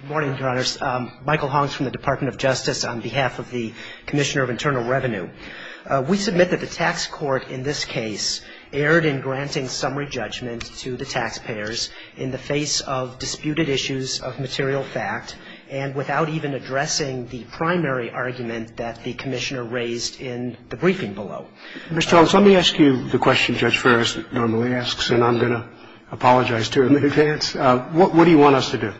Good morning, Your Honors. Michael Honks from the Department of Justice on behalf of the Commissioner of Internal Revenue. We submit that the tax court in this case erred in granting summary judgment to the taxpayers in the face of disputed issues of material fact and without even addressing the primary argument that the Commissioner raised in the briefing below. Mr. Honks, let me ask you the question Judge Ferris normally asks, and I'm going to apologize to her in advance. What do you want us to do?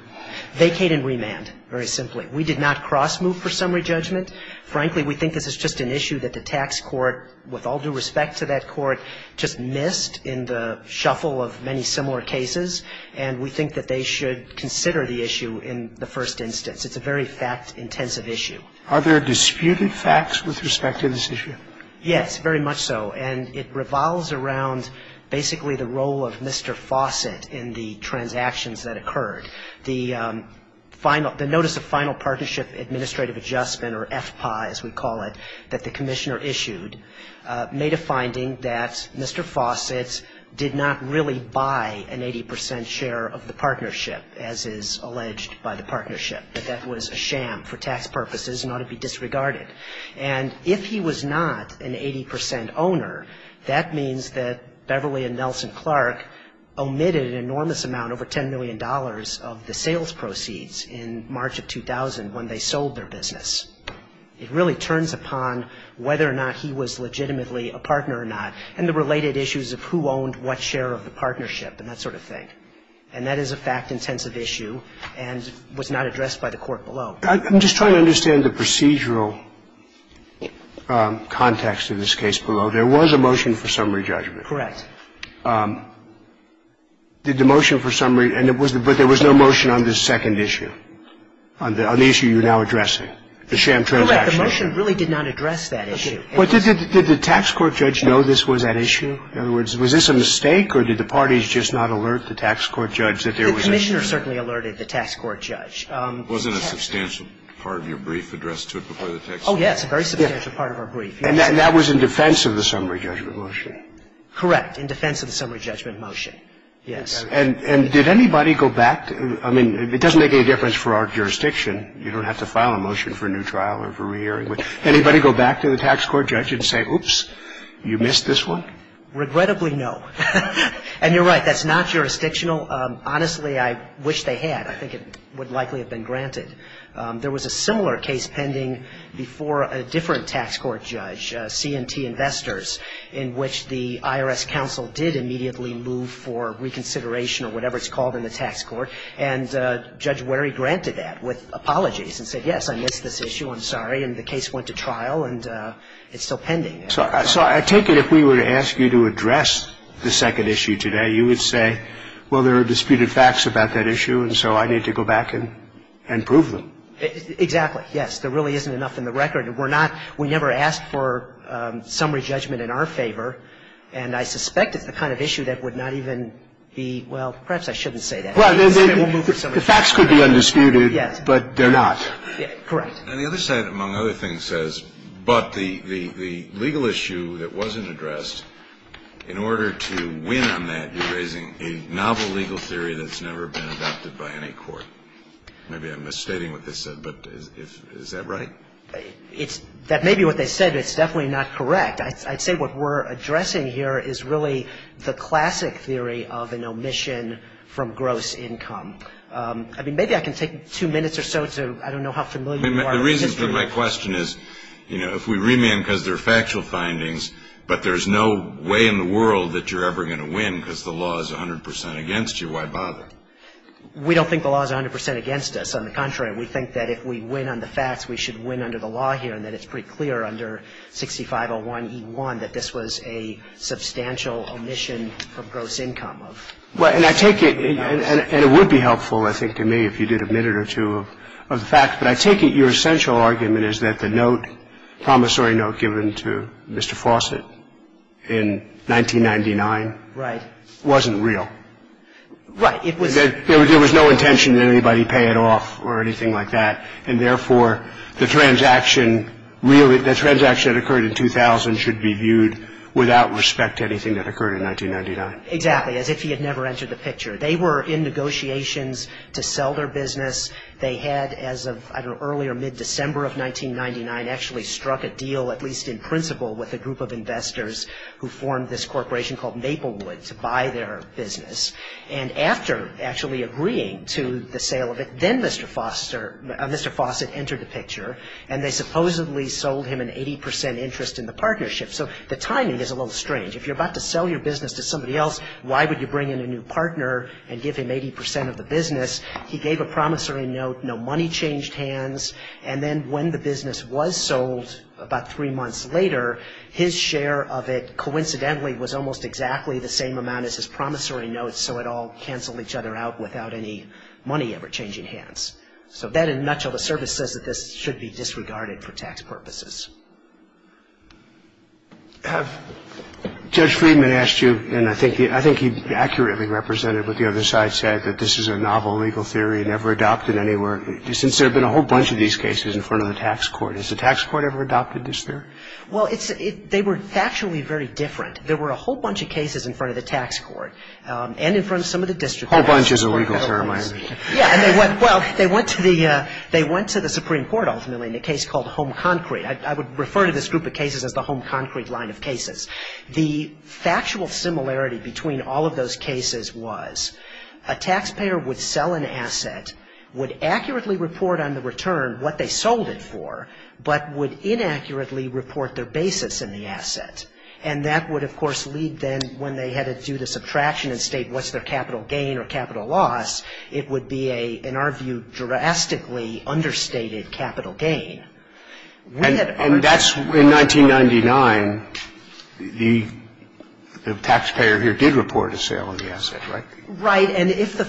Vacate and remand, very simply. We did not cross-move for summary judgment. Frankly, we think this is just an issue that the tax court, with all due respect to that court, just missed in the shuffle of many similar cases, and we think that they should consider the issue in the first instance. It's a very fact-intensive issue. Are there disputed facts with respect to this issue? Yes, very much so. And it revolves around basically the role of Mr. Fawcett in the transactions that occurred. The notice of final partnership administrative adjustment, or FPAI as we call it, that the Commissioner issued made a finding that Mr. Fawcett did not really buy an 80 percent share of the partnership, as is alleged by the partnership, that that was a sham for tax purposes and ought to be disregarded. And if he was not an 80 percent owner, that means that Beverly and Nelson Clark omitted an enormous amount, over $10 million, of the sales proceeds in March of 2000 when they sold their business. It really turns upon whether or not he was legitimately a partner or not, and the related issues of who owned what share of the partnership and that sort of thing. And that is a fact-intensive issue and was not addressed by the court below. I'm just trying to understand the procedural context of this case below. There was a motion for summary judgment. Correct. Did the motion for summary – but there was no motion on this second issue, on the issue you're now addressing, the sham transaction? Correct. The motion really did not address that issue. Okay. But did the tax court judge know this was that issue? In other words, was this a mistake, or did the parties just not alert the tax court judge that there was a sham? The Commissioner certainly alerted the tax court judge. Wasn't a substantial part of your brief addressed to it before the tax court? Oh, yes. A very substantial part of our brief. And that was in defense of the summary judgment motion? Correct. In defense of the summary judgment motion. Yes. And did anybody go back to – I mean, it doesn't make any difference for our jurisdiction. You don't have to file a motion for a new trial or for re-hearing. Would anybody go back to the tax court judge and say, oops, you missed this one? Regrettably, no. And you're right. That's not jurisdictional. Honestly, I wish they had. I think it would likely have been granted. There was a similar case pending before a different tax court judge, C&T Investors, in which the IRS counsel did immediately move for reconsideration or whatever it's called in the tax court. And Judge Werry granted that with apologies and said, yes, I missed this issue, I'm sorry. And the case went to trial, and it's still pending. So I take it if we were to ask you to address the second issue today, you would say, well, there are disputed facts about that issue, and so I need to go back and prove them. Exactly, yes. There really isn't enough in the record. We're not – we never asked for summary judgment in our favor, and I suspect it's the kind of issue that would not even be – well, perhaps I shouldn't say that. Well, the facts could be undisputed, but they're not. Correct. And the other side, among other things, says, but the legal issue that wasn't addressed, in order to win on that, you're raising a novel legal theory that's never been adopted by any court. Maybe I'm misstating what they said, but is that right? That may be what they said, but it's definitely not correct. I'd say what we're addressing here is really the classic theory of an omission from gross income. I mean, maybe I can take two minutes or so to – I don't know how familiar you are with history. The reason for my question is, you know, if we remand because they're factual findings, but there's no way in the world that you're ever going to win because the law is 100 percent against you, why bother? We don't think the law is 100 percent against us. On the contrary, we think that if we win on the facts, we should win under the law here, and that it's pretty clear under 6501E1 that this was a substantial omission from gross income. And I take it – and it would be helpful, I think, to me if you did admit it or two of the facts, but I take it your essential argument is that the note, promissory note given to Mr. Fawcett in 1999 wasn't real. There was no intention that anybody pay it off or anything like that, and therefore the transaction that occurred in 2000 should be viewed without respect to anything that occurred in 1999. Exactly, as if he had never entered the picture. They were in negotiations to sell their business. They had, as of, I don't know, early or mid-December of 1999, actually struck a deal, at least in principle, with a group of investors who formed this corporation called Maplewood to buy their business. And after actually agreeing to the sale of it, then Mr. Fawcett entered the picture, and they supposedly sold him an 80 percent interest in the partnership. So the timing is a little strange. If you're about to sell your business to somebody else, why would you bring in a new partner and give him 80 percent of the business? He gave a promissory note, no money changed hands, and then when the business was sold about three months later, his share of it coincidentally was almost exactly the same amount as his promissory note, so it all canceled each other out without any money ever changing hands. So that in and much of the service says that this should be disregarded for tax purposes. Judge Friedman asked you, and I think he accurately represented what the other side said, that this is a novel legal theory never adopted anywhere, since there have been a whole bunch of these cases in front of the tax court. Has the tax court ever adopted this theory? Well, they were factually very different. There were a whole bunch of cases in front of the tax court and in front of some of the district courts. A whole bunch is a legal term, I understand. Yeah, and they went to the Supreme Court ultimately in a case called Home Concrete. I would refer to this group of cases as the Home Concrete line of cases. The factual similarity between all of those cases was a taxpayer would sell an asset, would accurately report on the return what they sold it for, but would inaccurately report their basis in the asset. And that would, of course, lead then when they had to do the subtraction and state what's their capital gain or capital loss, it would be a, in our view, drastically understated capital gain. And that's, in 1999, the taxpayer here did report a sale on the asset, right? Right. And if the,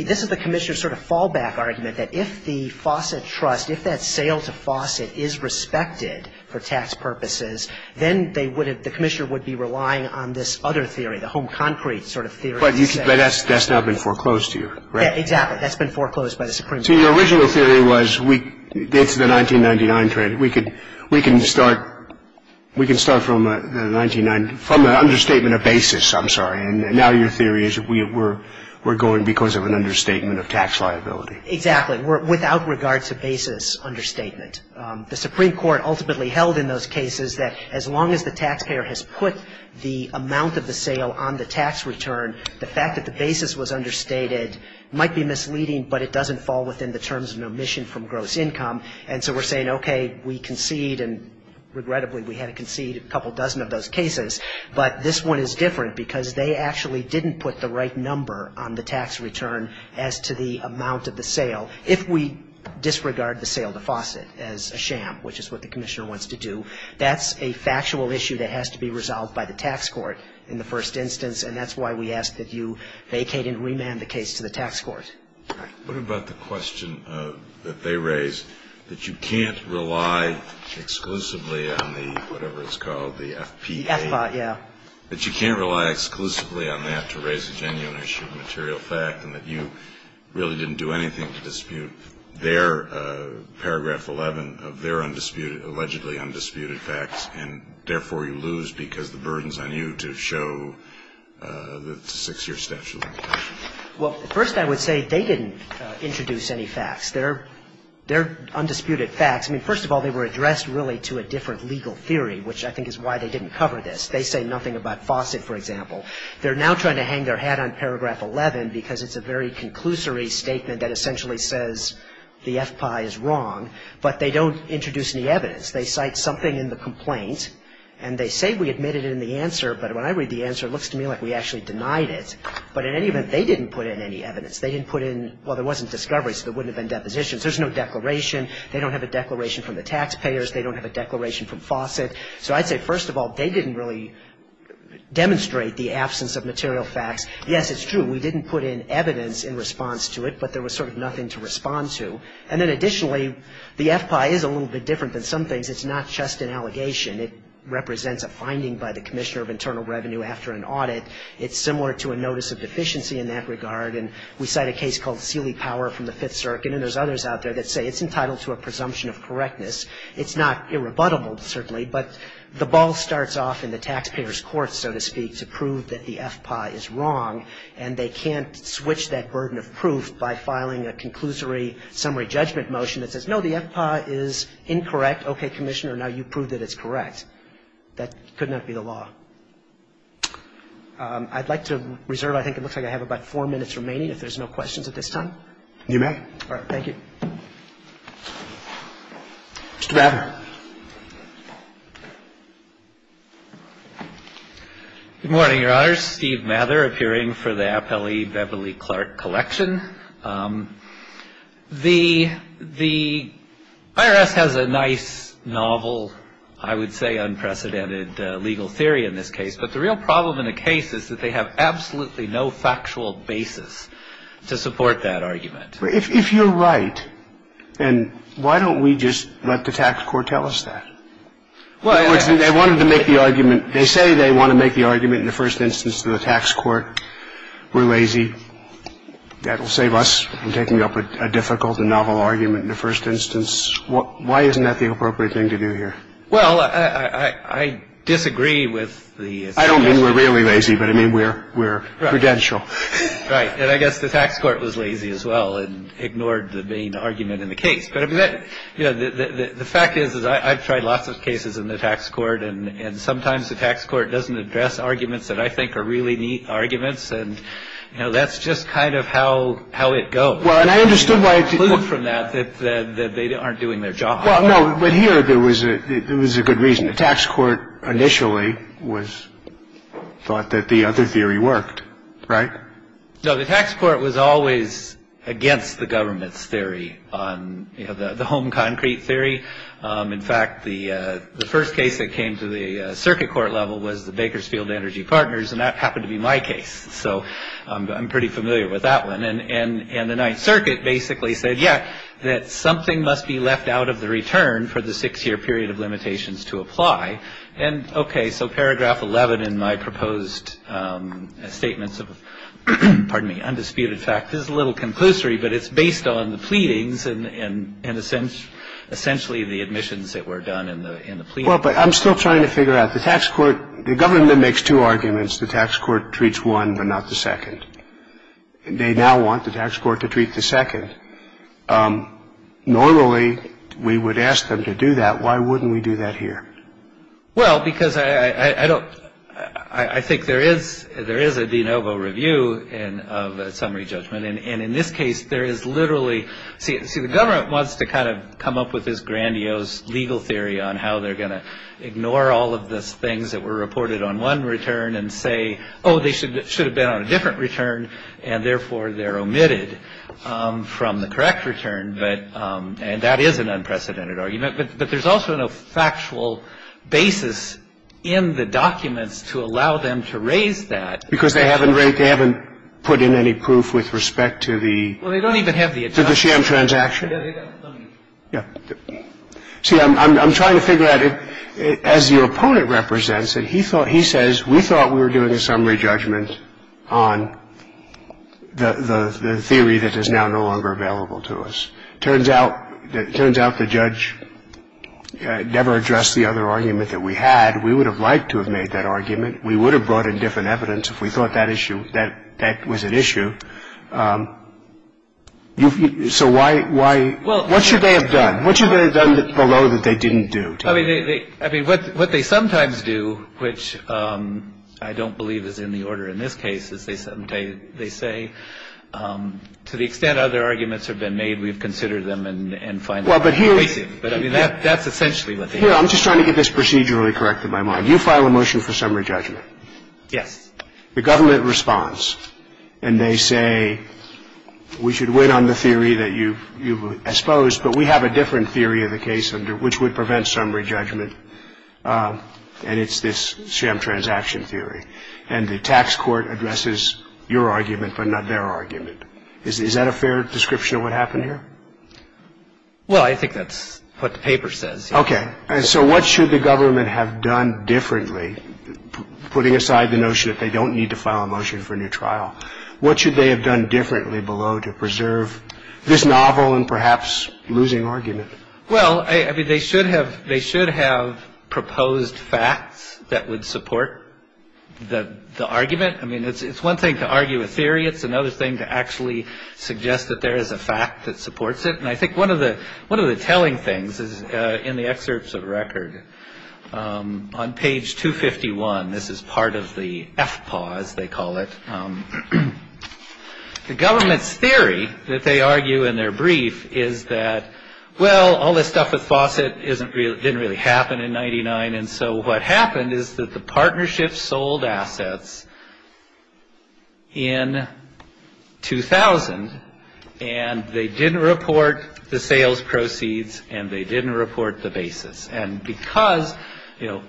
this is the Commissioner's sort of fallback argument, that if the Fawcett Trust, if that sale to Fawcett is respected for tax purposes, then they would have, the Commissioner would be relying on this other theory, the Home Concrete sort of theory. But that's now been foreclosed to you, right? Yeah, exactly. That's been foreclosed by the Supreme Court. So your original theory was it's the 1999 trend. We can start from a 1999, from an understatement of basis, I'm sorry. And now your theory is we're going because of an understatement of tax liability. Exactly. Without regard to basis understatement. The Supreme Court ultimately held in those cases that as long as the taxpayer has put the amount of the sale on the tax return, the fact that the basis was understated might be misleading, but it doesn't fall within the terms of an omission from gross income. And so we're saying, okay, we concede, and regrettably we had to concede a couple dozen of those cases, but this one is different because they actually didn't put the right number on the tax return as to the amount of the sale. If we disregard the sale to Fawcett as a sham, which is what the Commissioner wants to do, that's a factual issue that has to be resolved by the tax court in the first instance, and that's why we ask that you vacate and remand the case to the tax court. All right. What about the question that they raised, that you can't rely exclusively on the, whatever it's called, the FPA? The FBA, yeah. That you can't rely exclusively on that to raise a genuine issue of material fact and that you really didn't do anything to dispute their paragraph 11 of their allegedly undisputed facts and therefore you lose because the burden is on you to show the six-year statute. Well, first I would say they didn't introduce any facts. They're undisputed facts. I mean, first of all, they were addressed really to a different legal theory, which I think is why they didn't cover this. They say nothing about Fawcett, for example. They're now trying to hang their hat on paragraph 11 because it's a very conclusory statement that essentially says the FPA is wrong, but they don't introduce any evidence. They cite something in the complaint, and they say we admit it in the answer, but when I read the answer, it looks to me like we actually denied it. But in any event, they didn't put in any evidence. They didn't put in, well, there wasn't discovery, so there wouldn't have been depositions. There's no declaration. They don't have a declaration from the taxpayers. They don't have a declaration from Fawcett. So I'd say, first of all, they didn't really demonstrate the absence of material facts. Yes, it's true. We didn't put in evidence in response to it, but there was sort of nothing to respond to. And then additionally, the FPA is a little bit different than some things. It's not just an allegation. It represents a finding by the Commissioner of Internal Revenue after an audit. It's similar to a notice of deficiency in that regard, and we cite a case called Seely Power from the Fifth Circuit, and there's others out there that say it's entitled to a presumption of correctness. It's not irrebuttable, certainly, but the ball starts off in the taxpayer's court, so to speak, to prove that the FPA is wrong, and they can't switch that burden of proof by filing a conclusory summary judgment motion that says, no, the FPA is incorrect. Okay, Commissioner, now you've proved that it's correct. That could not be the law. I'd like to reserve. I think it looks like I have about four minutes remaining, if there's no questions at this time. You may. All right. Thank you. Mr. Rather. Good morning, Your Honors. Steve Mather, appearing for the Appellee Beverly Clark Collection. The IRS has a nice, novel, I would say unprecedented legal theory in this case, but the real problem in the case is that they have absolutely no factual basis to support that argument. If you're right, then why don't we just let the tax court tell us that? In other words, they wanted to make the argument. They say they want to make the argument in the first instance to the tax court. We're lazy. That will save us from taking up a difficult and novel argument in the first instance. Why isn't that the appropriate thing to do here? Well, I disagree with the suggestion. I don't mean we're really lazy, but I mean we're prudential. Right. And I guess the tax court was lazy as well and ignored the main argument in the case. But I mean, the fact is, is I've tried lots of cases in the tax court, and sometimes the tax court doesn't address arguments that I think are really neat arguments. And, you know, that's just kind of how how it goes. Well, and I understood why. From that, that they aren't doing their job. But here there was a there was a good reason. The tax court initially was thought that the other theory worked. Right. So the tax court was always against the government's theory on the home concrete theory. In fact, the first case that came to the circuit court level was the Bakersfield Energy Partners. And that happened to be my case. So I'm pretty familiar with that one. And the Ninth Circuit basically said, yeah, that something must be left out of the return for the six year period of limitations to apply. And OK. So paragraph 11 in my proposed statements of pardon me, undisputed fact, this is a little conclusory, but it's based on the pleadings and in a sense essentially the admissions that were done in the plea. Well, but I'm still trying to figure out the tax court. The government makes two arguments. The tax court treats one, but not the second. They now want the tax court to treat the second. Normally, we would ask them to do that. Why wouldn't we do that here? Well, because I don't I think there is there is a de novo review and of a summary judgment. And in this case, there is literally. See, see, the government wants to kind of come up with this grandiose legal theory on how they're going to ignore all of the things that were reported on one return and say, oh, they should should have been on a different return. And therefore, they're omitted from the correct return. But and that is an unprecedented argument. But there's also no factual basis in the documents to allow them to raise that. Because they haven't read. They haven't put in any proof with respect to the. Well, they don't even have the. To the sham transaction. Yeah. See, I'm trying to figure out as your opponent represents it. He thought he says we thought we were doing a summary judgment on the theory that is now no longer available to us. Turns out that turns out the judge never addressed the other argument that we had. We would have liked to have made that argument. We would have brought in different evidence if we thought that issue that that was an issue. So why? Why? Well, what should they have done? What should they have done below that they didn't do? I mean, they I mean, what what they sometimes do, which I don't believe is in the order in this case, they say to the extent other arguments have been made, we've considered them and find. Well, but here. But I mean, that that's essentially what I'm just trying to get this procedurally correct in my mind. You file a motion for summary judgment. Yes. The government response. And they say we should wait on the theory that you you expose. But we have a different theory of the case under which would prevent summary judgment. And it's this sham transaction theory. And the tax court addresses your argument, but not their argument. Is that a fair description of what happened here? Well, I think that's what the paper says. OK. So what should the government have done differently? Putting aside the notion that they don't need to file a motion for a new trial. What should they have done differently below to preserve this novel and perhaps losing argument? Well, I mean, they should have they should have proposed facts that would support the argument. I mean, it's one thing to argue a theory. It's another thing to actually suggest that there is a fact that supports it. And I think one of the one of the telling things is in the excerpts of record on page 251. This is part of the F pause. They call it the government's theory that they argue in their brief is that, well, all this stuff with Fawcett isn't real. It didn't really happen in ninety nine. And so what happened is that the partnership sold assets. In 2000, and they didn't report the sales proceeds and they didn't report the basis. And because, you know,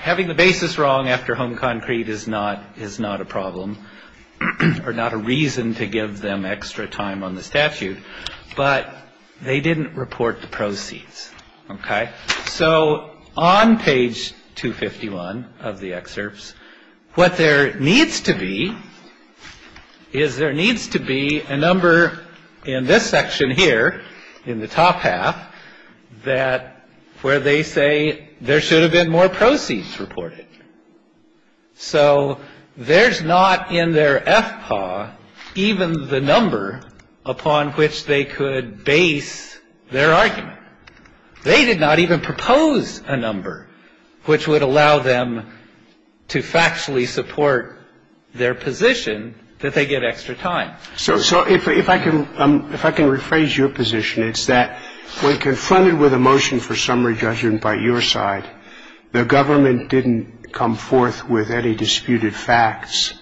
having the basis wrong after home concrete is not is not a problem or not a reason to give them extra time on the statute. But they didn't report the proceeds. OK. So on page 251 of the excerpts, what there needs to be is there needs to be a number in this section here in the top half that where they say there should have been more proceeds reported. So there's not in their FPA even the number upon which they could base their argument. They did not even propose a number which would allow them to factually support their position that they get extra time. So if I can if I can rephrase your position, it's that when confronted with a motion for summary judgment by your side, the government didn't come forth with any disputed facts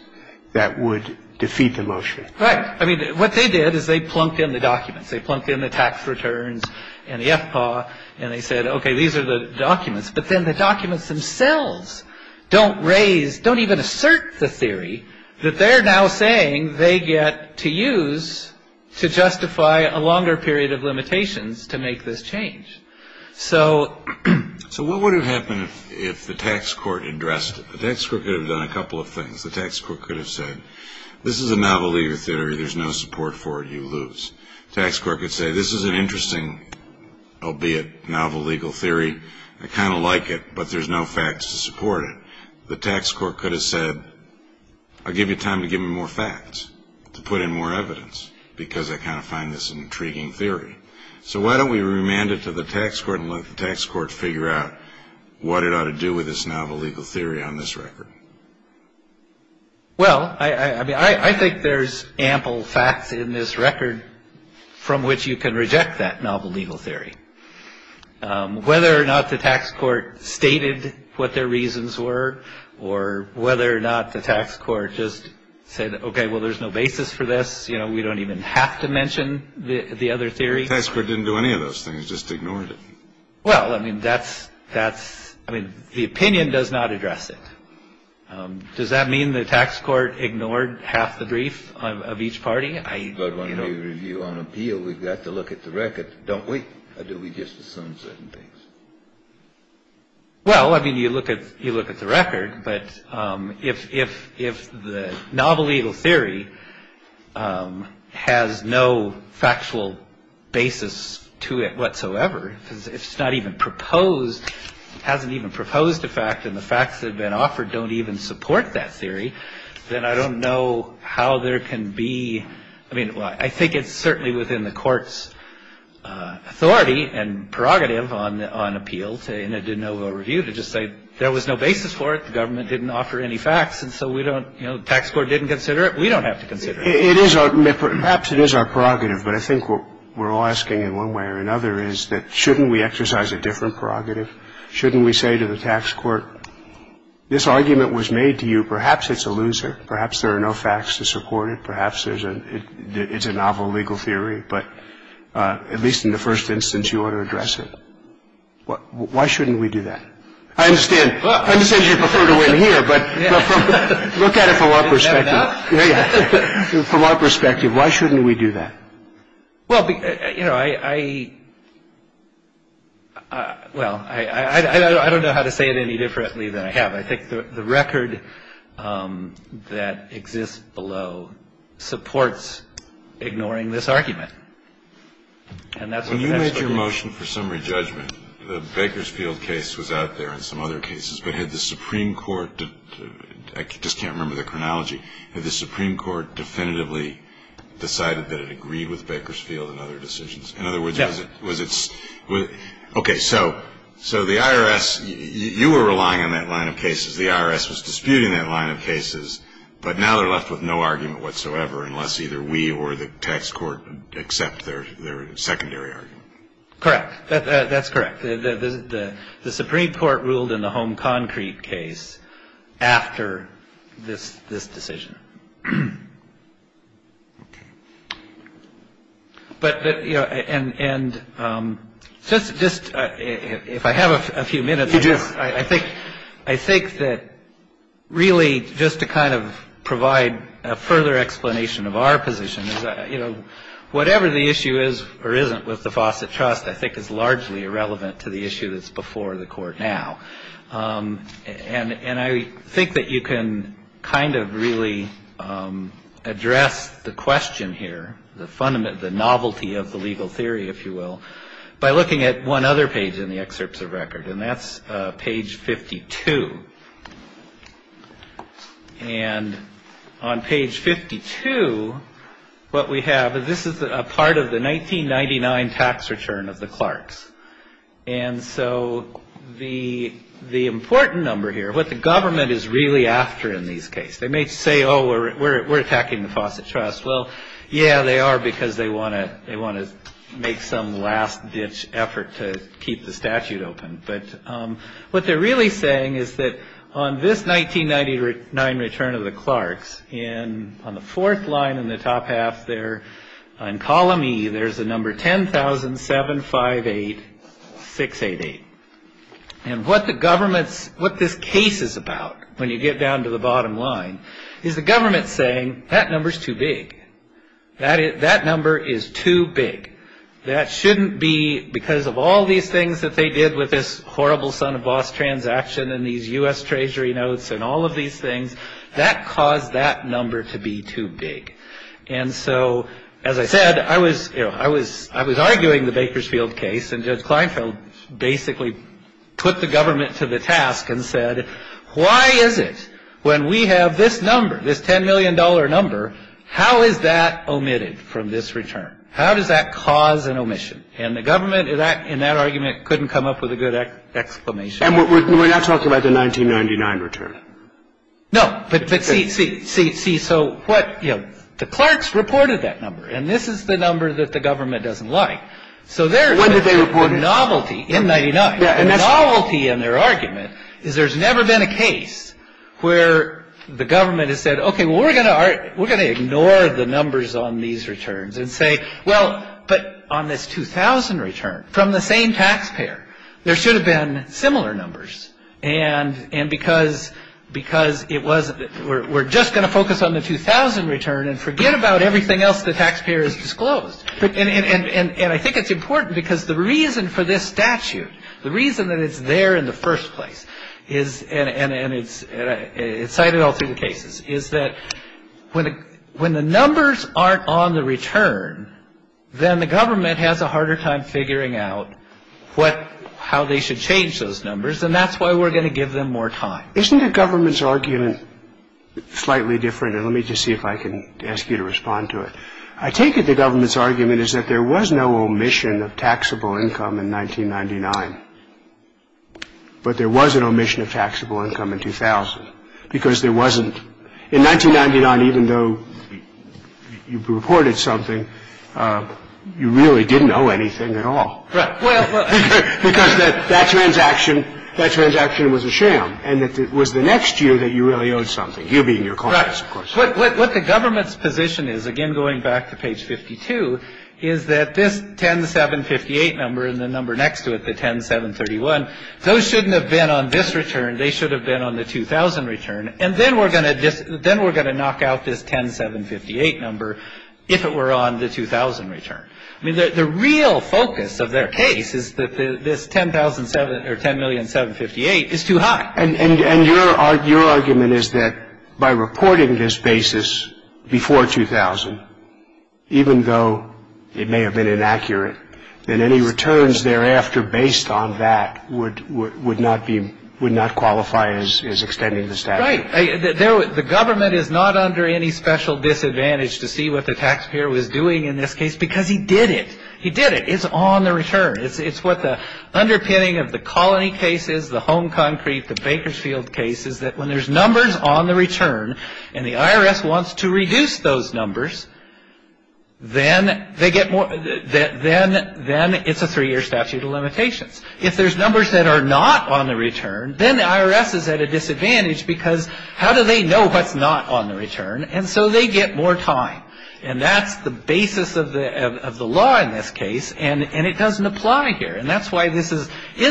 that would defeat the motion. Right. I mean, what they did is they plunked in the documents, they plunked in the tax returns and the FPA. And they said, OK, these are the documents. But then the documents themselves don't raise don't even assert the theory that they're now saying they get to use to justify a longer period of limitations to make this change. So. So what would have happened if the tax court addressed the tax court could have done a couple of things. The tax court could have said this is a novel legal theory. There's no support for you. Tax court could say this is an interesting albeit novel legal theory. I kind of like it, but there's no facts to support it. The tax court could have said, I'll give you time to give me more facts to put in more evidence because I kind of find this intriguing theory. So why don't we remand it to the tax court and let the tax court figure out what it ought to do with this novel legal theory on this record. Well, I mean, I think there's ample facts in this record from which you can reject that novel legal theory. Whether or not the tax court stated what their reasons were or whether or not the tax court just said, OK, well, there's no basis for this. You know, we don't even have to mention the other theory. The tax court didn't do any of those things, just ignored it. Well, I mean, that's that's I mean, the opinion does not address it. Does that mean the tax court ignored half the brief of each party? But when you review on appeal, we've got to look at the record, don't we? Do we just assume certain things? Well, I mean, you look at you look at the record. But if if if the novel legal theory has no factual basis to it whatsoever, because it's not even proposed, hasn't even proposed a fact and the facts that have been offered don't even support that theory, then I don't know how there can be. I mean, I think it's certainly within the court's authority and prerogative on on appeal. I mean, the tax court didn't consider it. We don't have to consider it. It is perhaps it is our prerogative. But I think we're all asking in one way or another is that shouldn't we exercise a different prerogative? Shouldn't we say to the tax court, this argument was made to you. Perhaps it's a loser. Perhaps there are no facts to support it. Perhaps there's a it's a novel legal theory. But at least in the first instance, you ought to address it. Why shouldn't we do that? I understand. I understand you prefer to win here. But look at it from our perspective. From our perspective, why shouldn't we do that? Well, you know, I well, I don't know how to say it any differently than I have. I think the record that exists below supports ignoring this argument. And that's a major motion for summary judgment. The Bakersfield case was out there in some other cases. But had the Supreme Court just can't remember the chronology of the Supreme Court definitively decided that it agreed with Bakersfield and other decisions. In other words, was it was it was OK. So so the IRS you were relying on that line of cases. The IRS was disputing that line of cases. But now they're left with no argument whatsoever unless either we or the tax court accept their secondary argument. Correct. That's correct. The Supreme Court ruled in the home concrete case after this this decision. But, you know, and just just if I have a few minutes, I just I think I think that really just to kind of provide a further explanation of our position. You know, whatever the issue is or isn't with the Fawcett Trust, I think is largely irrelevant to the issue that's before the court now. And and I think that you can kind of really address the question here. The fundament of the novelty of the legal theory, if you will, by looking at one other page in the excerpts of record. And that's page 52. And on page 52, what we have is this is a part of the 1999 tax return of the Clarks. And so the the important number here, what the government is really after in these case, they may say, oh, we're we're attacking the Fawcett Trust. Well, yeah, they are because they want to they want to make some last ditch effort to keep the statute open. But what they're really saying is that on this 1999 return of the Clarks and on the fourth line in the top half there, on column E, there's a number 10,000, seven, five, eight, six, eight, eight. And what the government's what this case is about when you get down to the bottom line is the government saying that number is too big. That is that number is too big. That shouldn't be because of all these things that they did with this horrible son of boss transaction and these U.S. Treasury notes and all of these things that caused that number to be too big. And so, as I said, I was I was I was arguing the Bakersfield case. And Judge Kleinfeld basically put the government to the task and said, why is it when we have this number, this ten million dollar number? How is that omitted from this return? How does that cause an omission? And the government is that in that argument couldn't come up with a good explanation. And we're not talking about the 1999 return. No, but see, see, see, see. So what you know, the Clarks reported that number and this is the number that the government doesn't like. So when did they report novelty in 99? And the novelty in their argument is there's never been a case where the government has said, OK, we're going to we're going to ignore the numbers on these returns and say, well, but on this 2000 return from the same taxpayer, there should have been similar numbers. And and because because it was we're just going to focus on the 2000 return and forget about everything else the taxpayer has disclosed. And I think it's important because the reason for this statute, the reason that it's there in the first place is and it's cited all through the cases, is that when when the numbers aren't on the return, then the government has a harder time figuring out what how they should change those numbers. And that's why we're going to give them more time. Isn't the government's argument slightly different? And let me just see if I can ask you to respond to it. I take it the government's argument is that there was no omission of taxable income in 1999. But there was an omission of taxable income in 2000 because there wasn't in 1999, even though you reported something, you really didn't know anything at all. Right. Because that transaction, that transaction was a sham. And it was the next year that you really owed something. You being your clients, of course. What the government's position is, again, going back to page 52, is that this 10-758 number and the number next to it, the 10-731, those shouldn't have been on this return. They should have been on the 2000 return. And then we're going to knock out this 10-758 number if it were on the 2000 return. I mean, the real focus of their case is that this 10,000 or 10,000,758 is too high. And your argument is that by reporting this basis before 2000, even though it may have been inaccurate, that any returns thereafter based on that would not qualify as extending the statute. Right. The government is not under any special disadvantage to see what the taxpayer was doing in this case because he did it. He did it. It's on the return. It's what the underpinning of the Colony case is, the Home Concrete, the Bakersfield case, is that when there's numbers on the return and the IRS wants to reduce those numbers, then it's a three-year statute of limitations. If there's numbers that are not on the return, then the IRS is at a disadvantage because how do they know what's not on the return? And so they get more time. And that's the basis of the law in this case, and it doesn't apply here. And that's why this is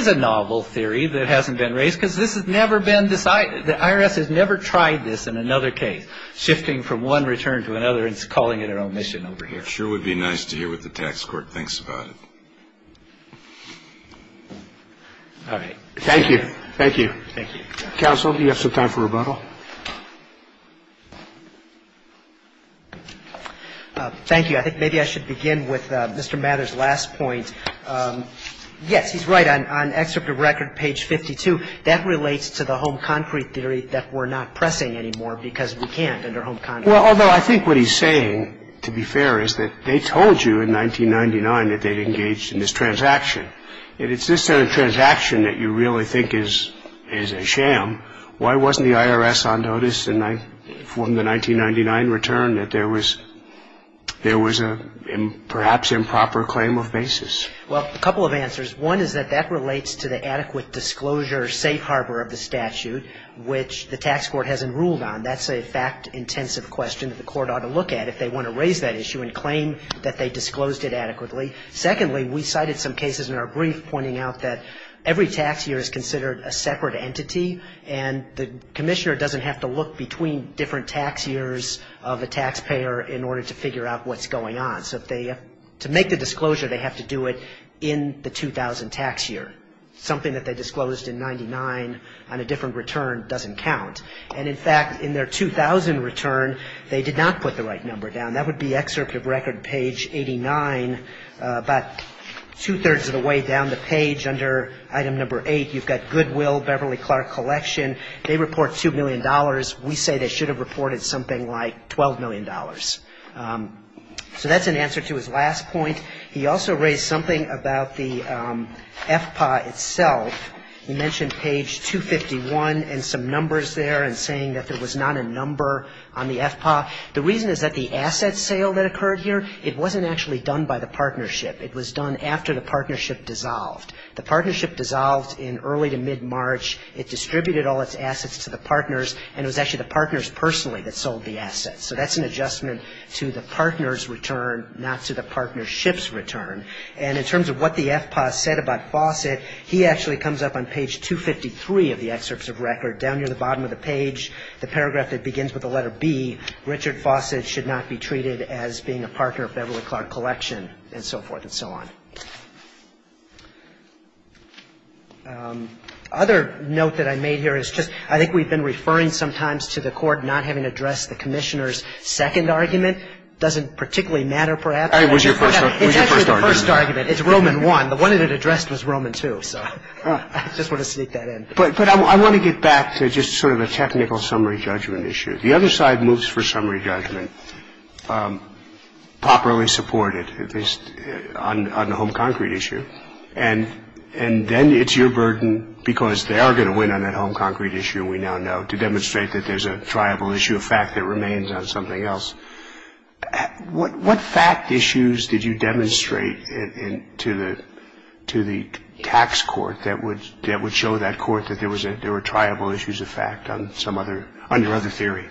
a novel theory that hasn't been raised because this has never been decided. The IRS has never tried this in another case, shifting from one return to another and calling it an omission over here. It sure would be nice to hear what the tax court thinks about it. All right. Thank you. Thank you. Counsel, do you have some time for rebuttal? Thank you. I think maybe I should begin with Mr. Mather's last point. Yes, he's right. Well, I think what he's saying, to be fair, is that they told you in 1999 that they'd engaged in this transaction. And it's this sort of transaction that you really think is a sham. Why wasn't the IRS on notice from the 1999 return that there was a perhaps improper claim of basis? Well, a couple of answers. One is that that relates to the adequate disclosure safe harbor of the statute, which the tax court hasn't ruled on. That's a fact-intensive question that the court ought to look at if they want to raise that issue and claim that they disclosed it adequately. Secondly, we cited some cases in our brief pointing out that every tax year is considered a separate entity, and the commissioner doesn't have to look between different tax years of a taxpayer in order to figure out what's going on. So to make the disclosure, they have to do it in the 2000 tax year. Something that they disclosed in 1999 on a different return doesn't count. And, in fact, in their 2000 return, they did not put the right number down. That would be excerpt of record page 89, about two-thirds of the way down the page under item number 8. You've got Goodwill, Beverly Clark Collection. They report $2 million. We say they should have reported something like $12 million. So that's an answer to his last point. He also raised something about the FPA itself. He mentioned page 251 and some numbers there and saying that there was not a number on the FPA. The reason is that the asset sale that occurred here, it wasn't actually done by the partnership. It was done after the partnership dissolved. The partnership dissolved in early to mid-March. It distributed all its assets to the partners, and it was actually the partners personally that sold the assets. So that's an adjustment to the partner's return, not to the partnership's return. And in terms of what the FPA said about Fawcett, he actually comes up on page 253 of the excerpts of record, down near the bottom of the page, the paragraph that begins with the letter B, Richard Fawcett should not be treated as being a partner of Beverly Clark Collection, and so forth and so on. Other note that I made here is just I think we've been referring sometimes to the Court not having addressed the Commissioner's second argument. It doesn't particularly matter, perhaps. I think it was your first argument. It's actually the first argument. It's Roman I. The one that it addressed was Roman II, so I just want to sneak that in. But I want to get back to just sort of a technical summary judgment issue. The other side moves for summary judgment, properly supported, at least on the home concrete issue, and then it's your burden because they are going to win on that home concrete issue, we now know, to demonstrate that there's a triable issue of fact that remains on something else. What fact issues did you demonstrate to the tax court that would show that court that there were triable issues of fact on your other theory?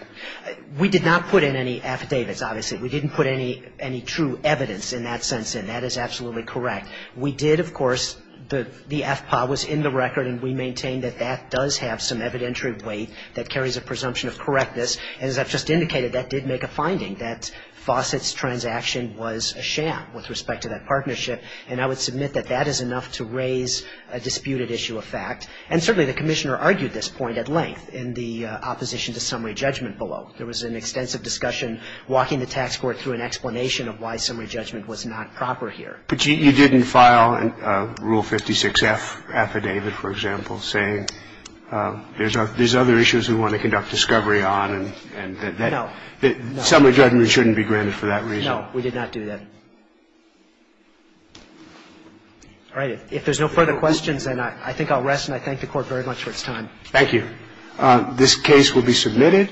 We did not put in any affidavits, obviously. We didn't put any true evidence in that sense, and that is absolutely correct. We did, of course, the FPA was in the record, and we maintain that that does have some evidentiary weight that carries a presumption of correctness. And as I've just indicated, that did make a finding, that Fawcett's transaction was a sham with respect to that partnership. And I would submit that that is enough to raise a disputed issue of fact. And certainly the Commissioner argued this point at length in the opposition to summary judgment below. There was an extensive discussion walking the tax court through an explanation of why summary judgment was not proper here. But you didn't file a Rule 56-F affidavit, for example, saying there's other issues we want to conduct discovery on and that summary judgment shouldn't be granted for that reason. No, we did not do that. All right. If there's no further questions, then I think I'll rest, and I thank the Court very much for its time. Thank you. This case will be submitted.